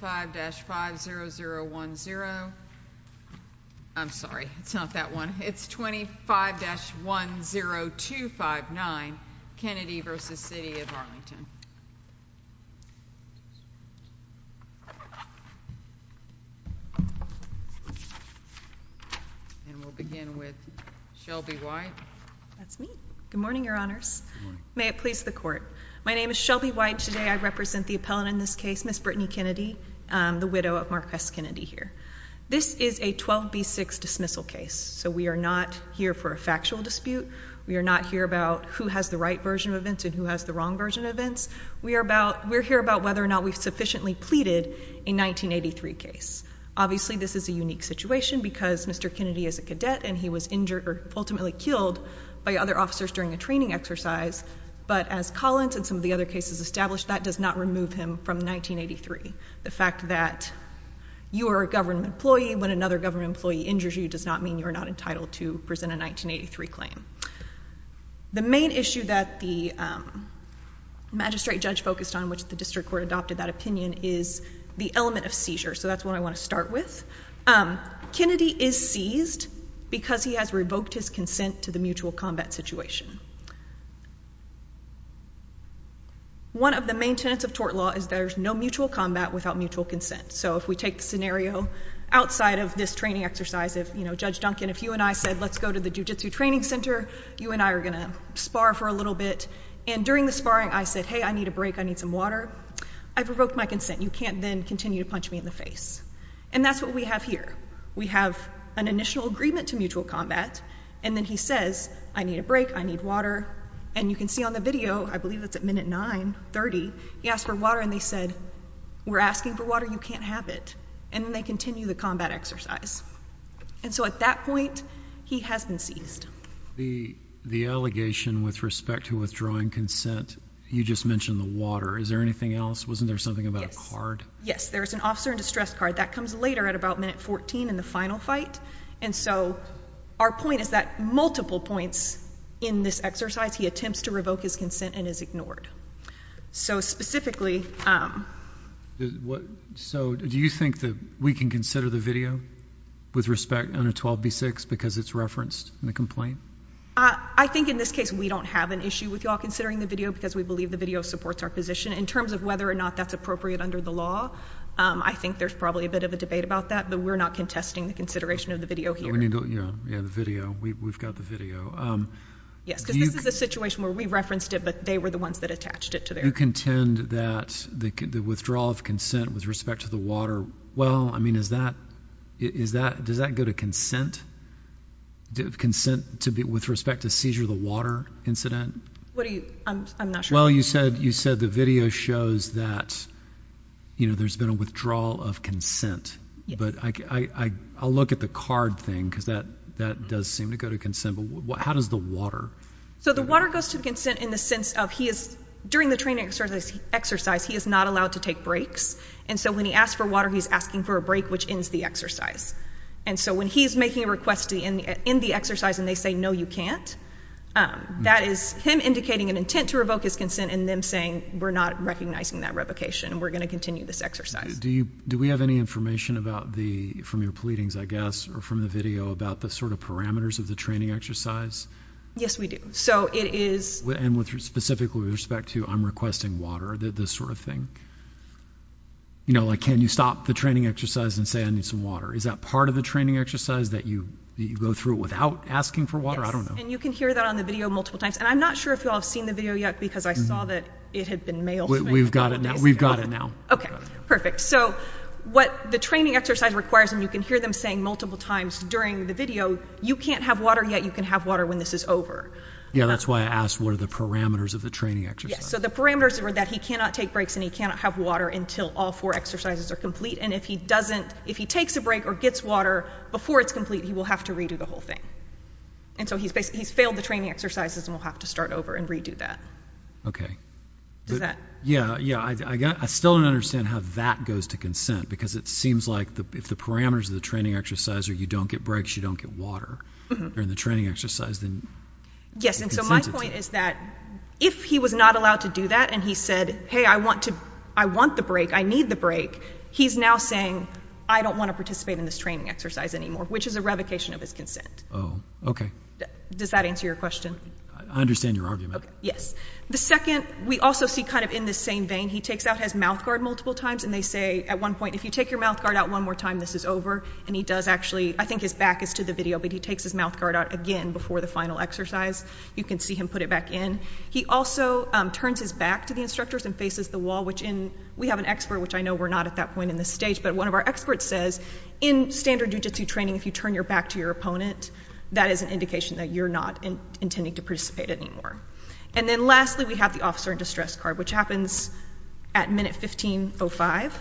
5-50010. I'm sorry, it's not that one. It's 25-10259. Kennedy v. City of And we'll begin with Shelby White. That's me. Good morning, Your Honors. May it please the court. My name is Shelby White. Today I represent the appellant in this case, Ms. Brittany Kennedy, the widow of Marques Kennedy here. This is a 12B6 dismissal case. So we are not here for a factual dispute. We are not here about who has the right version of events and who has the wrong version of events. We're here about whether or not we've sufficiently pleaded a 1983 case. Obviously, this is a unique situation because Mr. Kennedy is a cadet and he was injured or ultimately killed by other officers during a training exercise. But as Collins and some of the other cases established, that does not remove him from 1983. The fact that you are a government employee when another government employee injures you does not mean you're not entitled to present a 1983 claim. The main issue that the magistrate judge focused on, which the district court adopted that opinion, is the element of seizure. So that's what I want to start with. Kennedy is seized because he has revoked his consent to the mutual combat situation. One of the main tenets of tort law is there's no mutual combat without mutual consent. So if we take the scenario outside of this training exercise, if, you know, Judge Duncan, if you and I said, let's go to the jiu-jitsu training center, you and I are going to spar for a little bit. And during the sparring, I said, hey, I need a break. I need some water. I've revoked my consent. You can't then continue to punch me in the face. And that's what we have here. We have an initial agreement to mutual combat. And then he says, I need a break. I need water. And you can see on the video, I believe that's at minute 9 30. He asked for water, and they said we're asking for water. You can't have it. And then they continue the combat exercise. And so at that point, he has been seized. The the allegation with respect to withdrawing consent. You just mentioned the water. Is there anything else? Wasn't there something about hard? Yes, there's an officer in distress card that comes later at about minute 14 in the final fight. And so our point is that multiple points in this exercise, he attempts to revoke his consent and is ignored. So specifically, um, what? So do you think that we can consider the video with respect on a 12 B six because it's referenced in the complaint? I think in this case, we don't have an issue with y'all considering the video because we believe the video supports our position in terms of whether or not that's appropriate under the law. I think there's probably a bit of a debate about that, but we're not contesting the consideration of the video here. We need. Yeah, the video. We've got the video. Um, yes, because this is a situation where we referenced it, but they were the ones that attached it to their contend that the withdrawal of consent with respect to the water. Well, I mean, is that is that does that go to consent? Do consent to be with respect to seizure of the water incident? What do I'm not sure. Well, you said you said the video shows that, you know, there's been a withdrawal of consent, but I'll look at the card thing because that that does seem to go to consent. But how does the water? So the water goes to consent in the sense of he is during the training exercise. He is not allowed to take breaks. And so when he asked for water, he's asking for a break, which ends the exercise. And so when he's making a request in the exercise and they say, No, you can't. Um, that is him indicating an intent to revoke his consent and them saying we're not recognizing that replication. We're gonna continue this exercise. Do you? Do we have any information about the from your pleadings, I guess, or from the video about the sort of parameters of the training exercise? Yes, we do. So it is. And with specific with respect to I'm requesting water that this sort of thing, you know, like, Can you stop the training exercise and say I need some water? Is that part of the training exercise that you go through without asking for water? I don't know. And you can hear that on the video multiple times. And I'm not sure if you have seen the video yet, because I saw that it had been mailed. We've got it now. We've got it now. Okay, perfect. So what the training exercise requires and you can hear them saying multiple times during the video, you can't have water yet. You can have water when this is over. Yeah, that's why I asked. What are the parameters of the training? So the parameters were that he cannot take breaks and he cannot have water until all four exercises are complete. And if he doesn't, if he takes a break or gets water before it's complete, he will have to redo the whole thing. And so he's basically he's failed the training exercises and we'll have to start over and redo that. Okay. Does that? Yeah. Yeah. I still don't understand how that goes to consent, because it seems like if the parameters of the training exercise or you don't get breaks, you don't get water during the training exercise. Yes. And so my point is that if he was not allowed to do that and he said, Hey, I want to. I want the break. I need the break. He's now saying, I don't want to participate in this training exercise anymore, which is a revocation of his consent. Oh, okay. Does that answer your question? I understand your argument. Yes. The second we also see kind of in the same vein. He takes out his mouth guard multiple times and they say at one point, if you take your mouth guard out one more time, this is over. And he does. Actually, I think his back is to the video, but he takes his mouth guard out again before the final exercise. You can see him put it back in. He also turns his back to the instructors and faces the wall, which in we have an expert, which I know we're not at that point in the stage. But one of our experts says in standard jujitsu training, if you turn your back to your opponent, that is an indication that you're not intending to participate anymore. And then lastly, we have the officer in distress card, which happens at minute 15 oh five.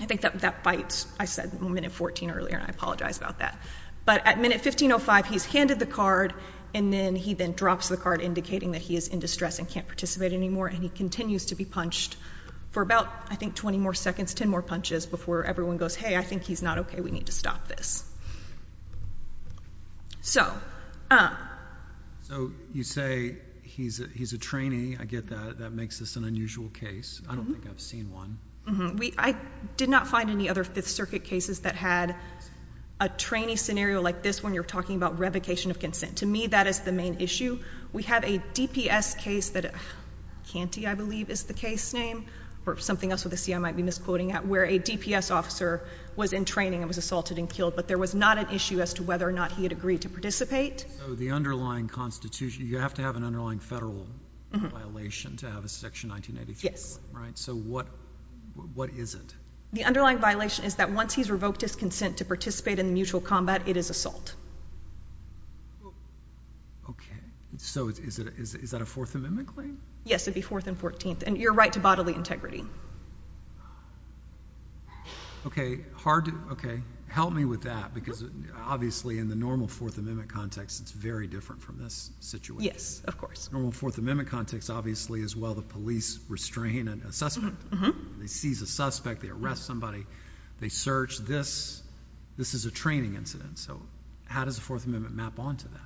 I think that that fights. I said a minute 14 earlier, and I apologize about that. But at minute 15 oh five, he's handed the card, and then he then drops the card, indicating that he is in distress and can't participate anymore. And he continues to be punched for about, I everyone goes, Hey, I think he's not okay. We need to stop this. So, uh, so you say he's he's a trainee. I get that. That makes this an unusual case. I don't think I've seen one way. I did not find any other Fifth Circuit cases that had a trainee scenario like this. When you're talking about revocation of consent to me, that is the main issue. We have a DPS case that can't be, I believe, is the case name or something else with a C. I might be quoting at where a DPS officer was in training and was assaulted and killed. But there was not an issue as to whether or not he had agreed to participate. The underlying Constitution. You have to have an underlying federal violation to have a section 1983. Yes, right. So what? What is it? The underlying violation is that once he's revoked his consent to participate in mutual combat, it is assault. Okay, so is that a Fourth Amendment claim? Yes, it be fourth and 14th. And you're right to bodily integrity. Okay, hard. Okay, help me with that. Because obviously, in the normal Fourth Amendment context, it's very different from this situation. Yes, of course. Normal Fourth Amendment context, obviously, as well. The police restraining a suspect. They seize a suspect. They arrest somebody. They search this. This is a training incident. So how does the Fourth Amendment map onto that?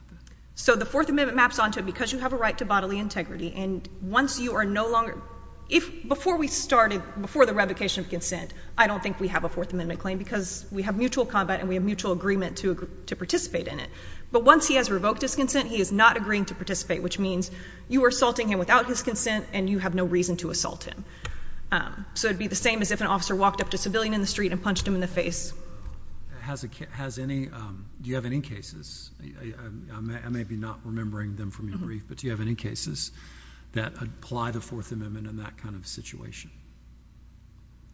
So the Fourth Amendment maps onto it because you have a right to bodily integrity. And once you are no longer if before we started before the revocation of consent, I don't think we have a Fourth Amendment claim because we have mutual combat and we have mutual agreement to participate in it. But once he has revoked his consent, he is not agreeing to participate, which means you were assaulting him without his consent, and you have no reason to assault him. So it'd be the same as if an officer walked up to civilian in the street and punched him in the face. Has it has any? Do you have any cases? I may be not remembering them from your brief, but you have any cases that apply the Fourth Amendment in that kind of situation.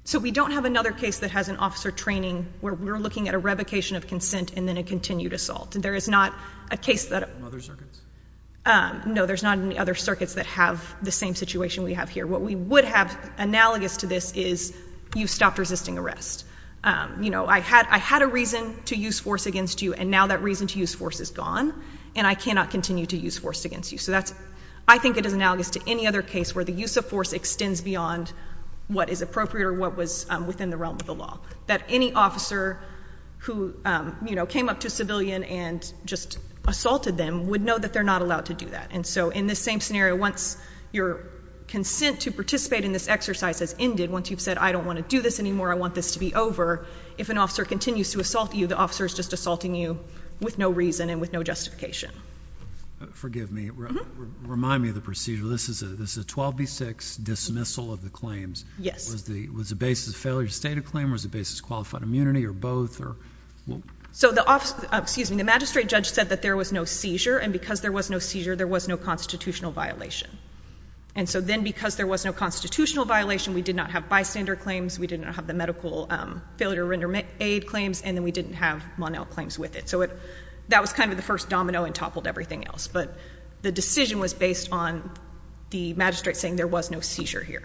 So we don't have another case that has an officer training where we're looking at a revocation of consent and then a continued assault. There is not a case that other circuits. No, there's not any other circuits that have the same situation we have here. What we would have analogous to this is you stopped resisting arrest. You know, I had I had a reason to use force against you. And now that reason to use force is gone, and I cannot continue to use force against you. So that's I think it is analogous to any other case where the use of force extends beyond what is appropriate or what was within the realm of the law that any officer who came up to civilian and just assaulted them would know that they're not allowed to do that. And so in the same scenario, once your consent to participate in this exercise has ended, once you've said, I don't want to do this anymore, I want this to be over. If an officer continues to assault you, the officer is just assaulting you with no reason and with no justification. Forgive me. Remind me of the procedure. This is this is 12 B. Six dismissal of the claims. Yes, was the was the basis of failure to state a claim was the basis qualified immunity or both. So the excuse me, the magistrate judge said that there was no seizure, and because there was no seizure, there was no constitutional violation. And so then, because there was no constitutional violation, we did not have bystander claims. We did not have the medical failure to render aid claims, and then we didn't have Monel claims with it. So that was kind of the first domino and toppled everything else. But the decision was based on the magistrate saying there was no seizure here.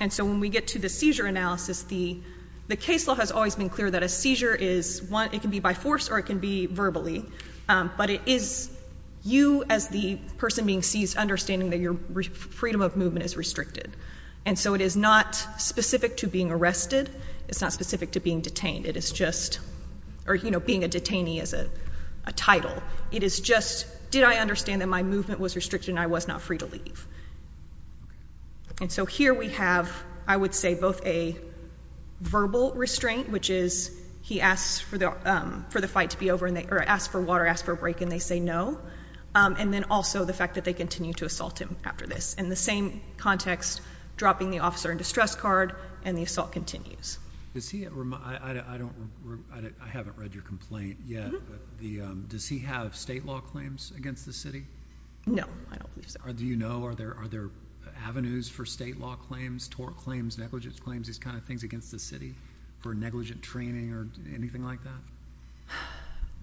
And so when we get to the seizure analysis, the case law has always been clear that a seizure is one. It could be by force, or it could be verbally. But it is you as the person being seized, understanding that your freedom of movement is restricted. And so it is not specific to being arrested. It's not specific to being detained. It is just or, you know, being a detainee is a title. It is just did I understand that my movement was restricted? I was not free to leave. And so here we have, I would say, both a verbal restraint, which is he asked for the for the fight to be over, and they asked for water, asked for a break, and they say no. And then also the fact that they continue to assault him after this in the same context, dropping the officer in distress card and the assault continues to see it. I don't I haven't read your complaint yet. The does he have state law claims against the city? No, I don't believe so. Do you know? Are there are there avenues for state law claims, tort claims, negligence claims, these kind of things against the city for negligent training or anything like that?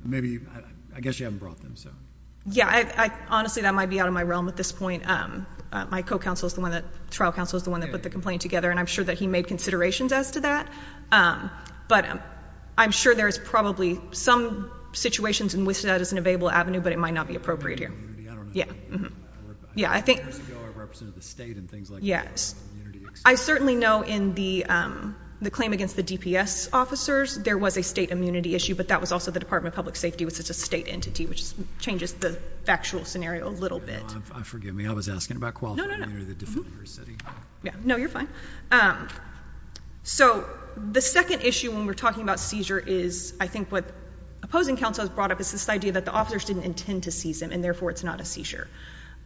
Maybe I guess you haven't brought them. So, yeah, I honestly, that might be out of my realm at this point. My co counsel is the one that trial counsel is the one that put the complaint together, and I'm sure that he made considerations as to that. Um, but I'm sure there is probably some situations in which that is an available avenue, but it might not be appropriate here. Yeah. Yeah, I think the state and things like yes, I certainly know in the the claim against the DPS officers, there was a state immunity issue, but that was also the Department of Public Safety, which is a state entity which changes the factual scenario a little bit. Forgive me. I was asking about quality. No, you're fine. Um, so the second issue when we're talking about seizure is I think what opposing counsel has brought up is this idea that the officers didn't intend to seize him, and therefore it's not a seizure.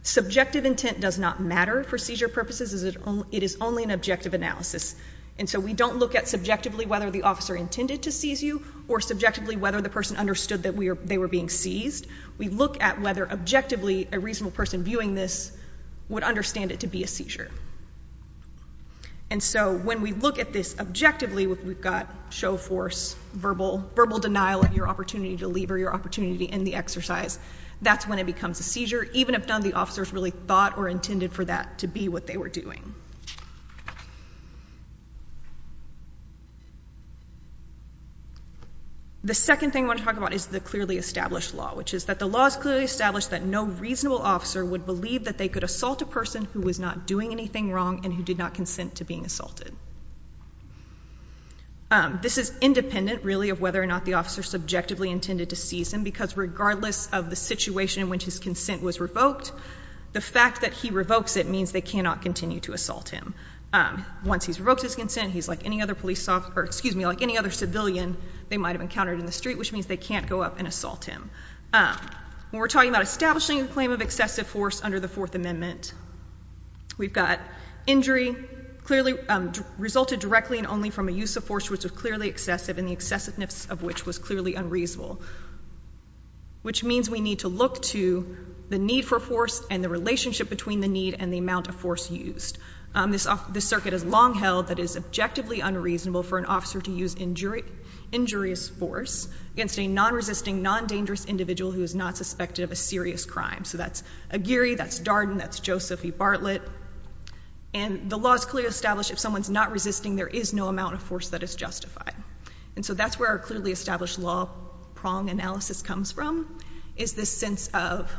Subjective intent does not matter for seizure purposes. Is it? It is only an objective analysis. And so we don't look at subjectively whether the officer intended to seize you or subjectively whether the person understood that we're they were being seized. We look at whether objectively a reasonable person viewing this would understand it to be a seizure. And so when we look at this objectively, we've got show force, verbal verbal denial of your opportunity to leave or your opportunity in the exercise. That's when it becomes a seizure. Even if done, the officers really thought or intended for that to be what they were doing. The second thing I want to talk about is the clearly established law, which is that the laws clearly established that no reasonable officer would believe that they could assault a person who was not doing anything wrong and who did not consent to being assaulted. This is independent, really, of whether or not the officer subjectively intended to seize him, because regardless of the situation in which his consent was revoked, the fact that he revokes it means they cannot continue to assault him. And so we're going to talk a little bit about that in a Once he's revoked his consent, he's like any other police officer, excuse me, like any other civilian they might have encountered in the street, which means they can't go up and assault him. We're talking about establishing a claim of excessive force under the Fourth Amendment. We've got injury clearly resulted directly and only from a use of force, which was clearly excessive in the excessiveness of which was clearly unreasonable, which means we need to look to the need for force and the relationship between the need and the amount of force used. This circuit is long held that is objectively unreasonable for an officer to use injurious force against a non-resisting, non-dangerous individual who is not suspected of a serious crime. So that's Aguirre, that's Darden, that's Joseph E. Bartlett. And the law is clearly established if someone's not resisting, there is no amount of force that is justified. And so that's where our clearly established law prong analysis comes from, is this sense of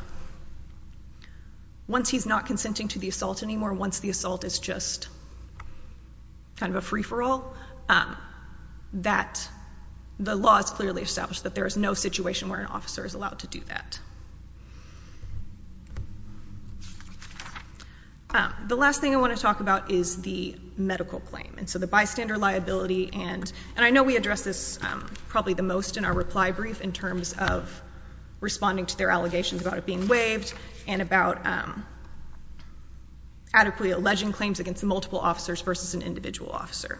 once he's not consenting to the assault anymore, once the assault is just kind of a free-for-all, that the law is clearly established, that there is no situation where an officer is allowed to do that. The last thing I want to talk about is the medical claim. And so the bystander liability and I know we address this probably the most in our reply brief in responding to their allegations about it being waived and about adequately alleging claims against multiple officers versus an individual officer.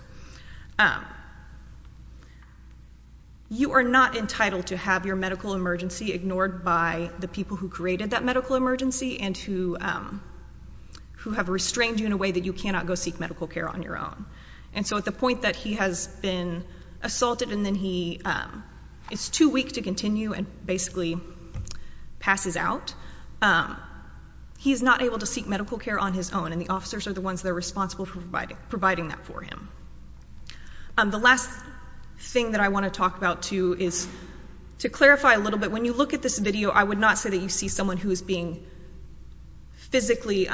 You are not entitled to have your medical emergency ignored by the people who created that medical emergency and who who have restrained you in a way that you cannot go seek medical care on your own. And so at the point that he has been assaulted and then he, it's too weak to continue and basically passes out, he's not able to seek medical care on his own and the officers are the ones that are responsible for providing that for him. The last thing that I want to talk about too is, to clarify a little bit, when you look at this video, I would not say that you see someone who is being physically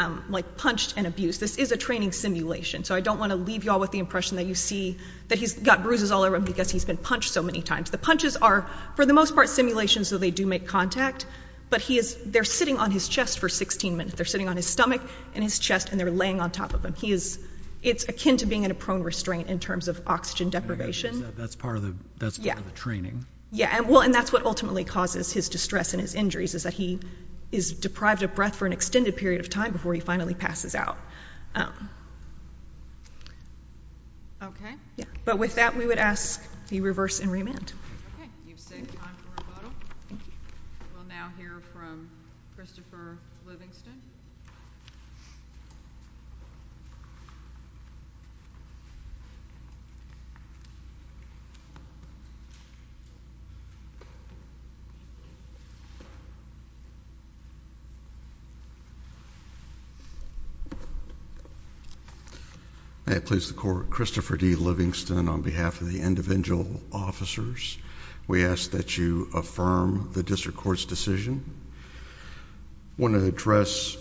punched and abused. This is a training simulation. So I don't want to leave you all with the impression that you see that he's got bruises all over him because he's been punched so many times. The punches are, for the most part, simulations so they do make contact, but he is, they're sitting on his chest for 16 minutes. They're sitting on his stomach and his chest and they're laying on top of him. He is, it's akin to being in a prone restraint in terms of oxygen deprivation. That's part of the, that's part of the training. Yeah. And well, and that's what ultimately causes his distress and his injuries is that he is deprived of breath for an extended period of time before he finally passes out. Okay. Yeah. But with that, we would ask the reverse and remand. Okay. You've said time for a model. We'll now hear from Christopher Livingston. May it please the court. Christopher D Livingston on behalf of the individual officers, we ask that you affirm the district court's decision. I want to address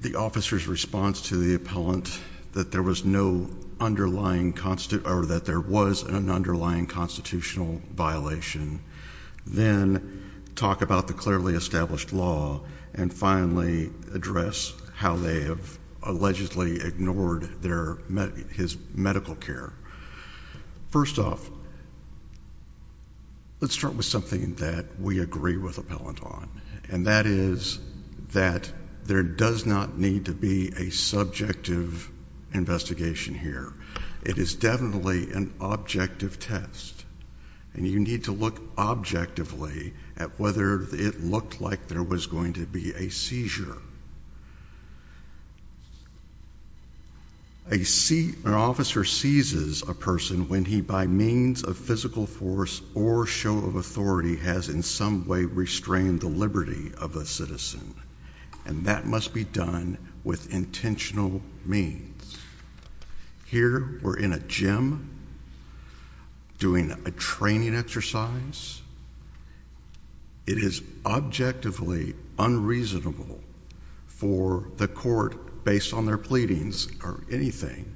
the officer's response to the appellant that there was no underlying constitute or that there was an underlying constitutional violation. Then talk about the clearly established law and finally address how they have allegedly ignored their, his medical care. First off, let's start with something that we agree with appellant on. And that is that there does not need to be a subjective investigation here. It is definitely an objective test and you need to look objectively at whether it looked like there was going to be a seizure. I see an officer seizes a person when he, by means of physical force or show of authority, has in some way restrained the liberty of a citizen. And that must be done with intentional means. Here we're in a gym doing a training exercise. It is objectively unreasonable for the court based on their pleadings or anything.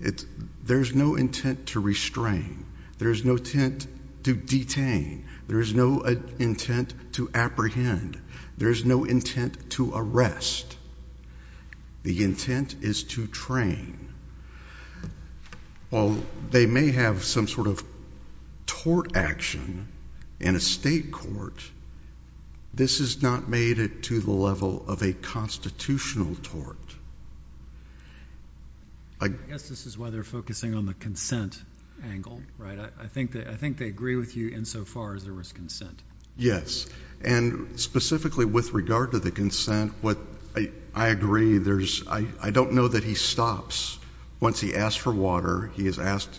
It's there's no intent to restrain. There's no tent to detain. There's no intent to apprehend. There's no intent to arrest. The intent is to train. Well, they may have some sort of tort action in a state court. This is not made it to the level of a constitutional tort. I guess this is why they're focusing on the consent angle, right? I think that I think they agree with you insofar as there was consent. Yes. And specifically with regard to the consent, what I agree there's I don't know that he stops once he asked for water. He has asked.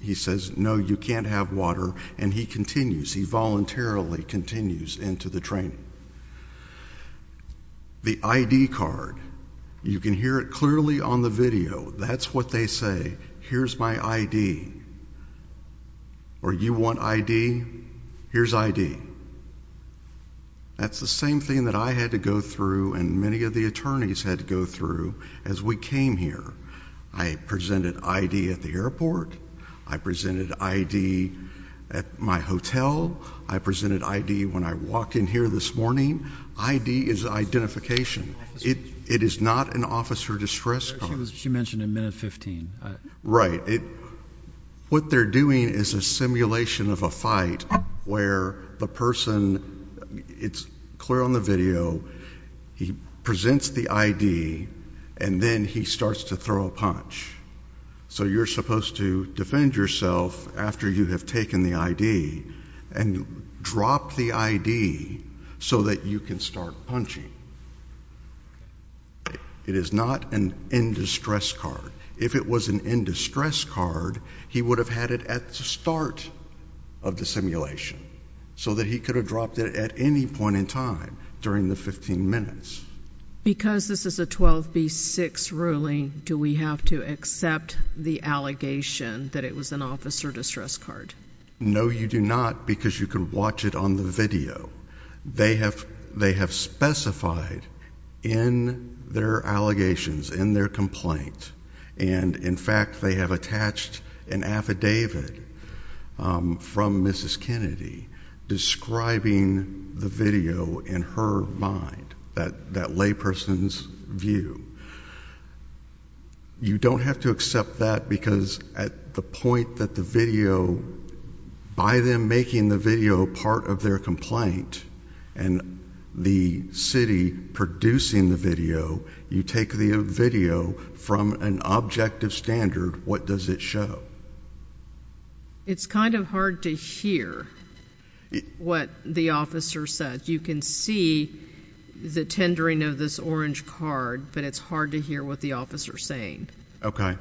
He says, No, you can't have water. And he continues. He voluntarily continues into the training. The I. D. Card. You can hear it clearly on the video. That's what they say. Here's my I. D. Or you want I. D. Here's I. D. That's the same thing that I had to go through. And many of the attorneys had to go through as we came here. I presented I. D. At the airport. I presented I. D. At my hotel. I presented I. D. When I walked in here this morning, I. D. Is identification. It is not an officer distress. She mentioned a minute 15 right? What they're doing is a simulation of a fight where the person it's clear on the video. He presents the I. D. And then he starts to throw a punch. So you're supposed to defend yourself after you have taken the I. D. And drop the I. D. So that you can start punching. It is not an in distress card. If it was an in distress card, he would have had it at the start of the simulation so that he could have dropped it at any point in time during the 15 minutes. Because this is a 12 B six ruling, do we have to accept the allegation that it was an officer distress card? No, you do not. Because you could watch it on the video. They have they have specified in their allegations in their complaint. And in fact, they have attached an affidavit from Mrs Kennedy describing the video in her mind that that lay person's view. You don't have to accept that because at the point that the video by them making the video part of their complaint and the city producing the video, you take the video from an objective standard. What does it show? It's kind of hard to hear what the officer said. You can see the tendering of this orange card, but it's hard to hear what the officer saying. Okay,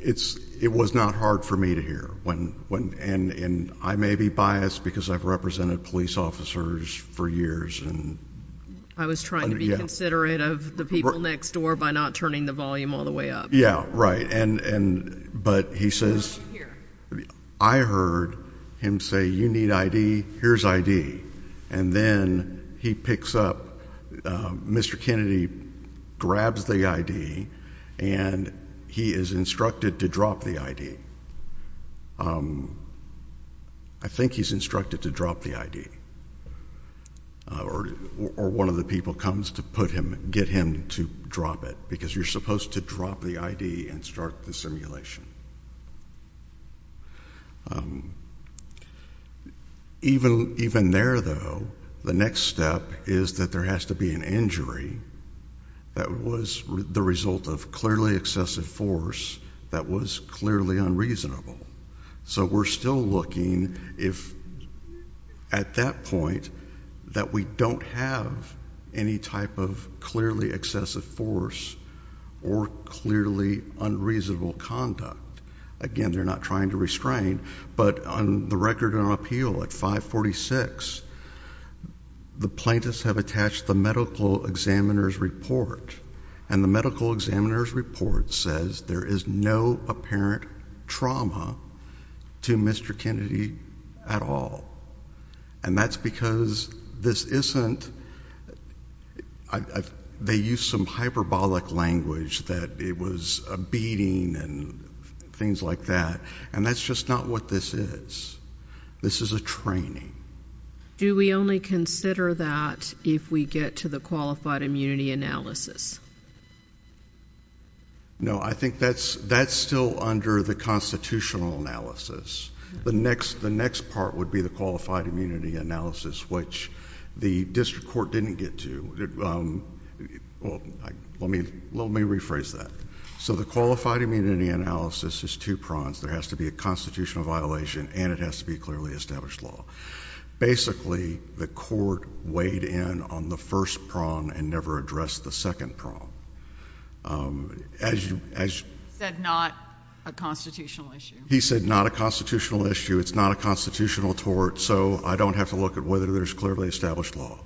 it's it was not hard for me to hear when and I may be biased because I've represented police officers for years and I was trying to be considerate of the people next door by not turning the volume all the way up. Yeah, right. And but he says, I heard him say, you need I. D. Here's I. D. And then he picks up. Mr. Kennedy grabs the I. D. And he is instructed to drop the I. D. Um, I think he's instructed to drop the I. D. Or or one of the people comes to put him, get him to drop it because you're supposed to drop the I. D. And start the simulation. Um, even even there, though, the next step is that there has to be an injury. That was the result of clearly excessive force that was clearly unreasonable. So we're still looking if at that point that we don't have any type of clearly reasonable conduct again, they're not trying to restrain. But on the record and appeal at 5 46, the plaintiffs have attached the medical examiner's report and the medical examiner's report says there is no apparent trauma to Mr. Kennedy at all. And that's because this isn't I. They use some hyperbolic language that it was a beating and things like that. And that's just not what this is. This is a training. Do we only consider that if we get to the qualified immunity analysis? No, I think that's that's still under the constitutional analysis. The next the next part would be the qualified immunity analysis, which the district court didn't get to. Um, well, let me let me rephrase that. So the qualified immunity analysis is two prongs. There has to be a constitutional violation, and it has to be clearly established law. Basically, the court weighed in on the first prong and never addressed the second prong. Um, as you said, not a constitutional issue, he said. Not a constitutional issue. It's not a constitutional tort. So I don't have to look at whether there's clearly established law.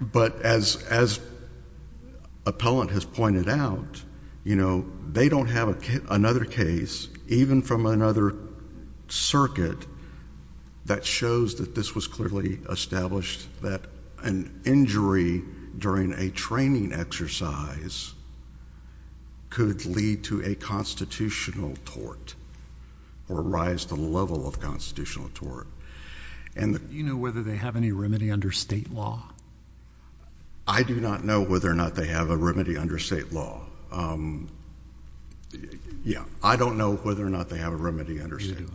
But as as appellant has pointed out, you know, they don't have another case, even from another circuit that shows that this was clearly established that an injury during a training exercise could lead to a constitutional tort or rise to the level of constitutional tort. And, you know, whether they have any remedy under state law. I do not know whether or not they have a remedy under state law. Um, yeah, I don't know whether or not they have a remedy under state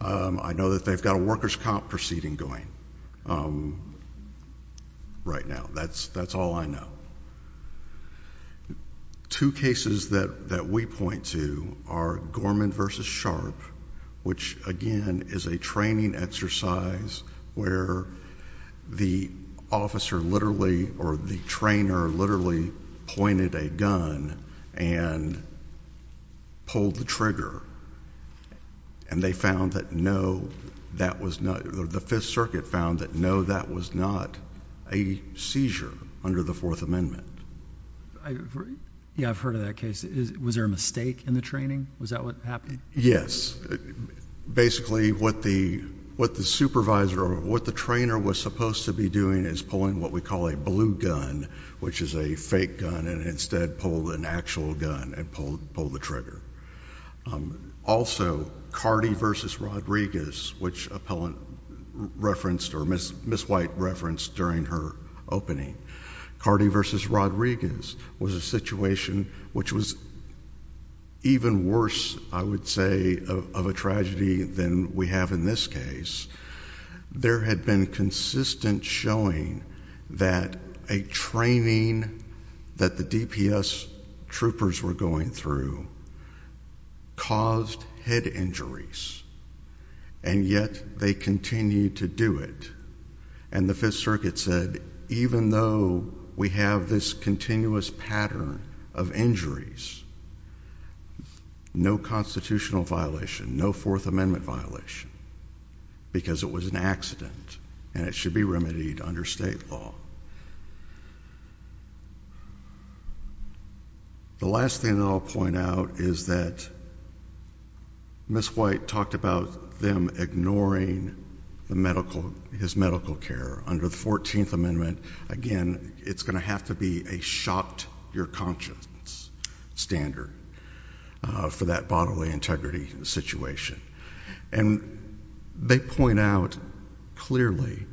law. I know that they've got a workers comp proceeding going, um, right now. That's that's all I know. Two cases that that we point to are Gorman versus Sharp, which again is a training exercise where the officer literally or the trainer literally pointed a gun and pulled the trigger. And they found that no, that was not the Fifth Circuit found that no, that was not a seizure under the Fourth Amendment. Yeah, I've heard of that case. Was there a mistake in the training? Was that what happened? Yes. Basically, what the what the supervisor, what the trainer was supposed to be doing is pulling what we call a blue gun, which is a fake gun and instead pulled an actual gun and pulled pulled the trigger. Um, also, Cardi versus Rodriguez, which appellant referenced or Miss White referenced during her opening. Cardi versus Rodriguez was a situation which was even worse, I would say, of a tragedy than we have in this case. There had been consistent showing that a training that the DPS troopers were going through caused head injuries, and yet they continue to do it. And the Fifth Circuit said, even though we have this continuous pattern of no constitutional violation, no Fourth Amendment violation because it was an accident and it should be remedied under state law. The last thing that I'll point out is that Miss White talked about them ignoring the medical his medical care under the 14th Amendment. Again, it's gonna have to be a shocked your conscience standard for that bodily integrity situation. And they point out clearly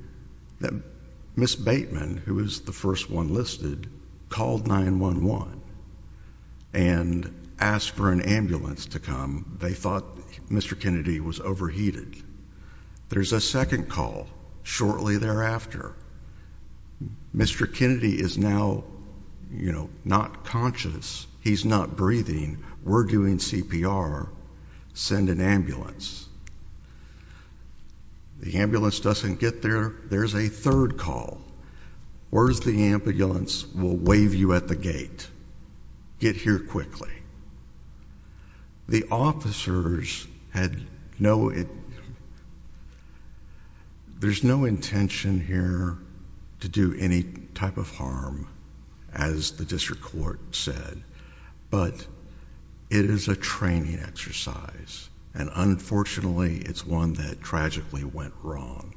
that Miss Bateman, who is the first one listed, called 911 and asked for an ambulance to come. They thought Mr Kennedy was overheated. There's a second call shortly thereafter. Mr Kennedy is now, you know, not conscious. He's not breathing. We're doing CPR. Send an ambulance. The ambulance doesn't get there. There's a third call. Where's the ambulance will wave you at the gate. Get here quickly. The officers had no it. There's no intention here to do any type of harm, as the district court said, but it is a training exercise, and unfortunately, it's one that tragically went wrong.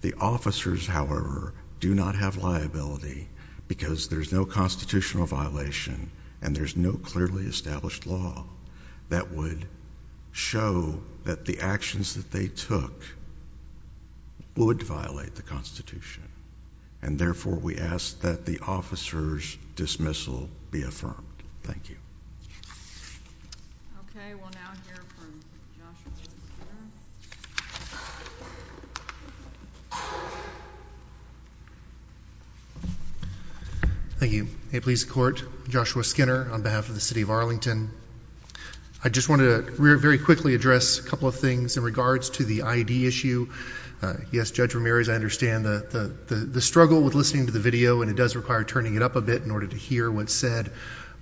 The officers, however, do not have liability because there's no constitutional violation, and there's no clearly established law that would show that the actions that they took would violate the Constitution. And therefore, we asked that the officers dismissal be affirmed. Thank you. Okay, well, now here we go. Thank you. Please court Joshua Skinner on behalf of the city of Arlington. I just wanted a very quickly address a couple of things in regards to the I D issue. Yes, Judge Ramirez. I understand the struggle with listening to the video, and it does require turning it up a bit in order to hear what said.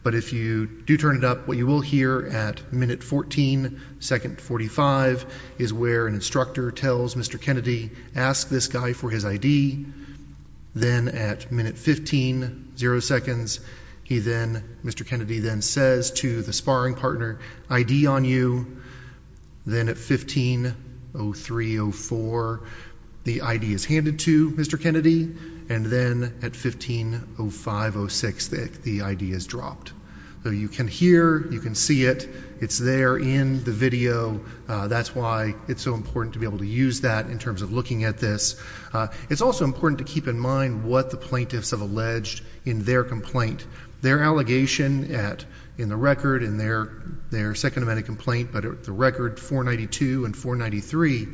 But if you do turn it up, what you will hear at minute 14 2nd 45 is where an instructor tells Mr Kennedy. Ask this guy for his I D. Then at minute 15 0 seconds, he then Mr Kennedy then says to the sparring partner I D on you. Then at 15 oh 304 the idea is handed to Mr Kennedy and then at 15 0506 that the idea is dropped. So you can hear you can see it. It's there in the video. That's why it's so important to be able to use that in terms of looking at this. It's also important to keep in mind what the plaintiffs have alleged in their complaint, their allegation at in the record in their their second amendment complaint. But the record 492 and 4 93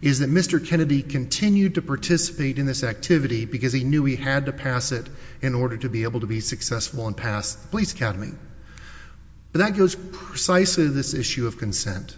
is that Mr Kennedy continued to participate in this activity because he knew he had to pass it in order to be able to be successful and police academy. But that goes precisely this issue of consent.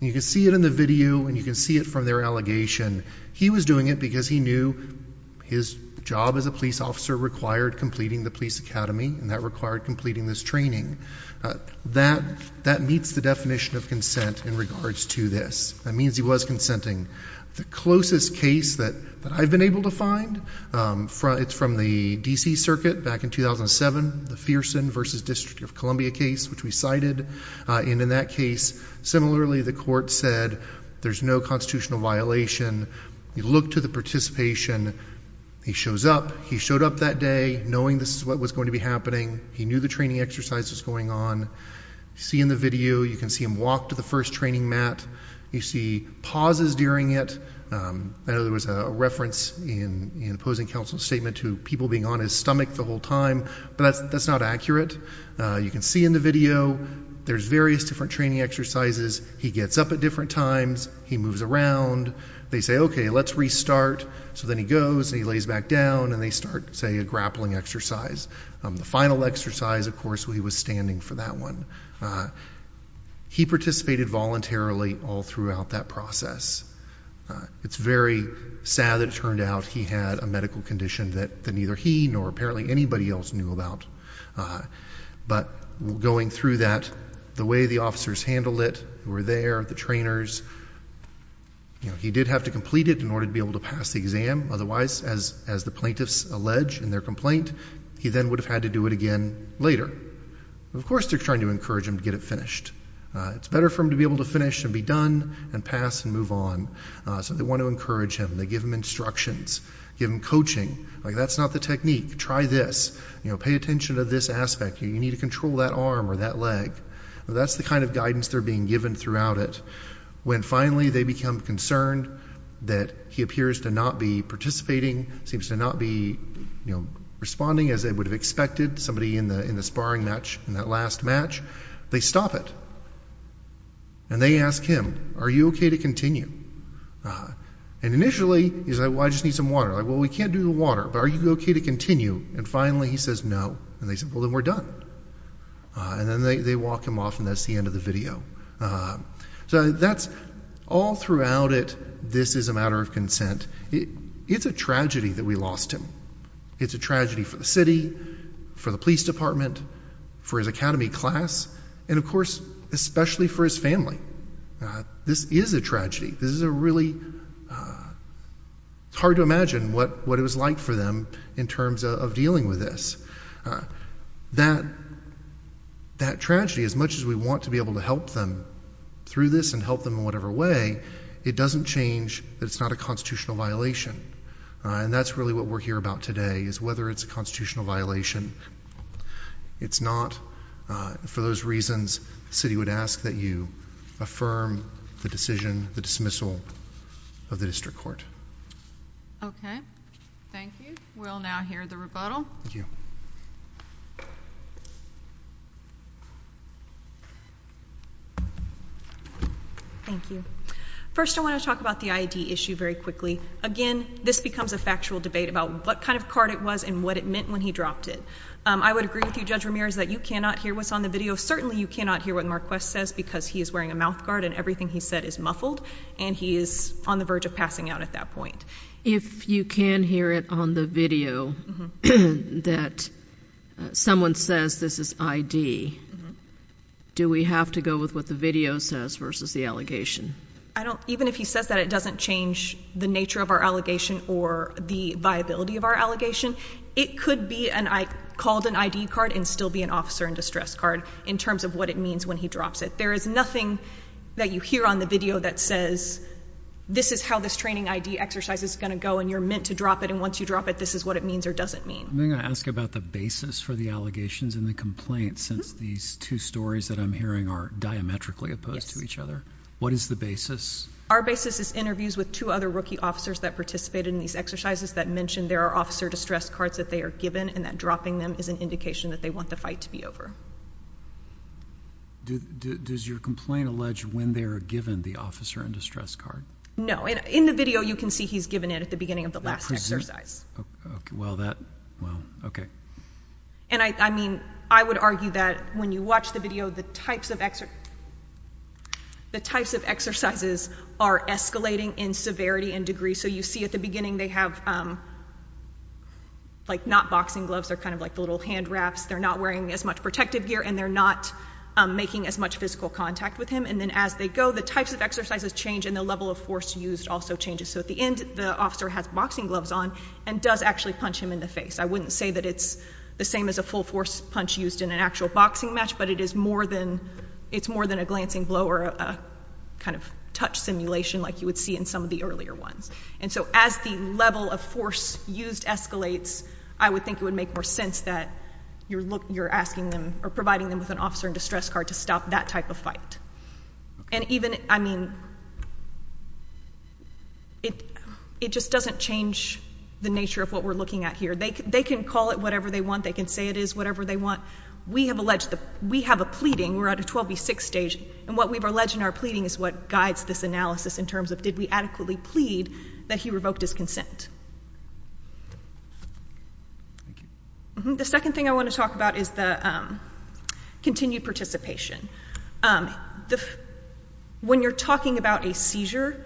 You can see it in the video and you can see it from their allegation. He was doing it because he knew his job as a police officer required completing the police academy and that required completing this training. Uh, that that meets the definition of consent in regards to this. That means he was consenting the closest case that I've been able to find. Um, it's from the D. C. Circuit back in 2000 and seven, the Pearson versus District of Columbia case, which we cited. And in that case, similarly, the court said there's no constitutional violation. You look to the participation, he shows up, he showed up that day knowing this is what was going to be happening. He knew the training exercises going on. See in the video, you can see him walk to the first training mat. You see pauses during it. Um, I know there was a reference in opposing counsel statement to people being on his stomach the whole time, but that's not accurate. You can see in the video there's various different training exercises. He gets up at different times, he moves around, they say, okay, let's restart. So then he goes, he lays back down and they start, say, a grappling exercise. Um, the final exercise, of course, we was standing for that one. Uh, he participated voluntarily all throughout that process. It's very sad that it turned out he had a medical condition that, that neither he nor apparently anybody else knew about. Uh, but going through that, the way the officers handled it, who were there, the trainers, you know, he did have to complete it in order to be able to pass the exam. Otherwise, as, as the plaintiffs allege in their complaint, he then would have had to do it again later. Of course, they're trying to encourage him to get it finished. Uh, it's better for him to be able to finish and be done and pass and move on. Uh, so they want to encourage him. They give him instructions, give him coaching. Like, that's not the technique. Try this, you know, pay attention to this aspect. You need to control that arm or that leg. That's the kind of guidance they're being given throughout it. When finally they become concerned that he appears to not be participating, seems to not be, you know, responding as they would have expected somebody in the, in the sparring match in that last match, they stop it and they ask him, are you okay to continue? Uh, and initially he's like, well, I just need some water. Like, well, we can't do the water, but are you okay to continue? And finally he says no. And they said, well, then we're done. Uh, and then they, they walk him off and that's the end of the video. Uh, so that's all throughout it. This is a matter of consent. It's a tragedy that we lost him. It's a tragedy for the city, for the police department, for his academy class, and of course, especially for his family. Uh, this is a tragedy. This is a really, uh, it's hard to imagine what, what it was like for them in terms of dealing with this. Uh, that, that tragedy, as much as we want to be able to help them through this and help them in whatever way, it doesn't change that it's not a constitutional violation. Uh, and that's really what we're here about today is whether it's a constitutional violation it's not. Uh, for those reasons, the city would ask that you affirm the decision, the dismissal of the district court. Okay. Thank you. We'll now hear the rebuttal. Thank you. First, I want to talk about the I. D. Issue very quickly again. This becomes a factual debate about what kind of card it was and what it when he dropped it. I would agree with you, Judge Ramirez, that you cannot hear what's on the video. Certainly you cannot hear what Marquess says because he is wearing a mouth guard and everything he said is muffled and he is on the verge of passing out at that point. If you can hear it on the video that someone says this is I. D. Do we have to go with what the video says versus the allegation? I don't even if he says that it doesn't change the nature of our allegation or the viability of our allegation, it could be and I called an I. D. Card and still be an officer in distress card in terms of what it means when he drops it. There is nothing that you hear on the video that says this is how this training I. D. Exercise is going to go and you're meant to drop it. And once you drop it, this is what it means or doesn't mean. I'm going to ask about the basis for the allegations in the complaint. Since these two stories that I'm hearing are diametrically opposed to each other. What is the basis? Our basis is interviews with two other rookie officers that participated in these exercises that mentioned there are officer distress cards that they are given and that dropping them is an indication that they want the fight to be over. Does your complaint allege when they're given the officer in distress card? No. And in the video you can see he's given it at the beginning of the last exercise. Well, that well, okay. And I mean, I would argue that when you watch the video, the types of extra the types of exercises are escalating in severity and degree. So you see at the beginning they have like not boxing gloves are kind of like the little hand wraps. They're not wearing as much protective gear and they're not making as much physical contact with him. And then as they go, the types of exercises change in the level of force used also changes. So at the end, the officer has boxing gloves on and does actually punch him in the face. I wouldn't say that it's the same as a full force punch used in an actual boxing match, but it is more than it's more than a glancing blow or a kind of touch simulation like you would see in some of the earlier ones. And so as the level of force used escalates, I would think it would make more sense that you're looking, you're asking them or providing them with an officer in distress card to stop that type of fight. And even, I mean, it, it just doesn't change the nature of what we're looking at here. They can call it whatever they want. They can say it is whatever they want. We have alleged that we have a pleading. We're at a 12 v 6 stage and what we've alleged in our pleading is what guides this analysis in terms of did we adequately plead that he revoked his consent. The second thing I want to talk about is the continued participation. When you're talking about a seizure,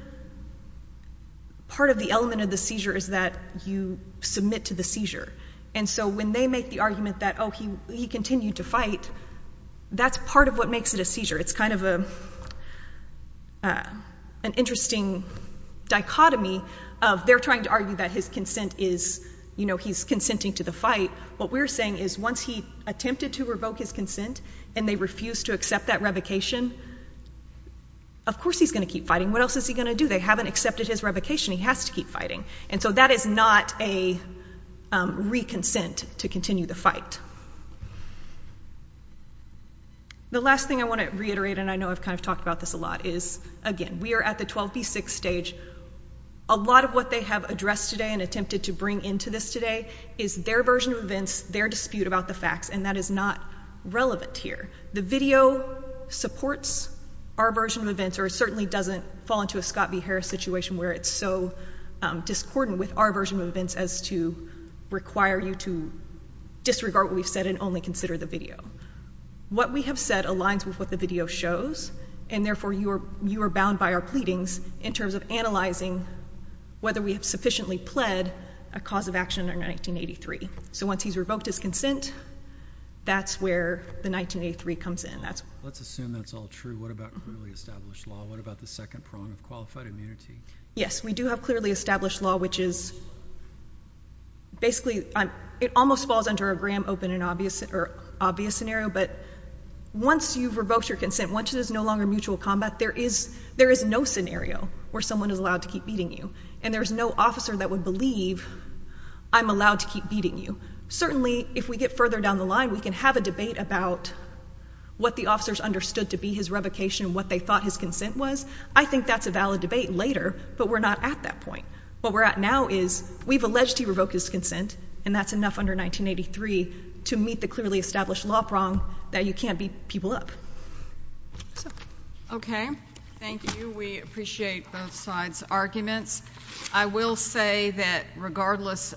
part of the element of the seizure is that you submit to the seizure. And so when they make the argument that, oh, he, he continued to fight, that's part of what makes it a seizure. It's kind of a, an interesting dichotomy of they're trying to argue that his consent is, you know, he's consenting to the fight. What we're saying is once he attempted to revoke his consent and they refuse to accept that revocation, of course he's going to keep fighting. What else is he going to do? They haven't accepted his revocation. He has to keep fighting. And so that is not a reconsent to continue the fight. The last thing I want to reiterate, and I know I've kind of talked about this a lot, is again, we're at the 12 v 6 stage. A lot of what they have addressed today and attempted to bring into this today is their version of events, their dispute about the facts. And that is not relevant here. The video supports our version of events or certainly doesn't fall into a Scott v Harris situation where it's so discordant with our version of events as to require you to disregard what we've said and only consider the video. What we have said aligns with what the video shows, and therefore you are you are bound by our pleadings in terms of analyzing whether we have sufficiently pled a cause of action in 1983. So once he's revoked his consent, that's where the 1983 comes in. That's let's assume that's all true. What about really established law? What about the second prong of qualified immunity? Yes, we do have clearly established law, which is basically it almost falls under a Graham open and obvious or obvious scenario. But once you've revoked your consent, once it is no longer mutual combat, there is there is no scenario where someone is allowed to keep beating you, and there's no officer that would believe I'm allowed to keep beating you. Certainly, if we get further down the line, we can have a debate about what the officers understood to be his revocation, what they thought his consent was. I think that's a valid debate later, but we're not at that point. What we're at now is we've alleged he revoked his consent, and that's enough under 1983 to meet the clearly established law prong that you can't be people up. Okay, thank you. We appreciate both sides arguments. I will say that regardless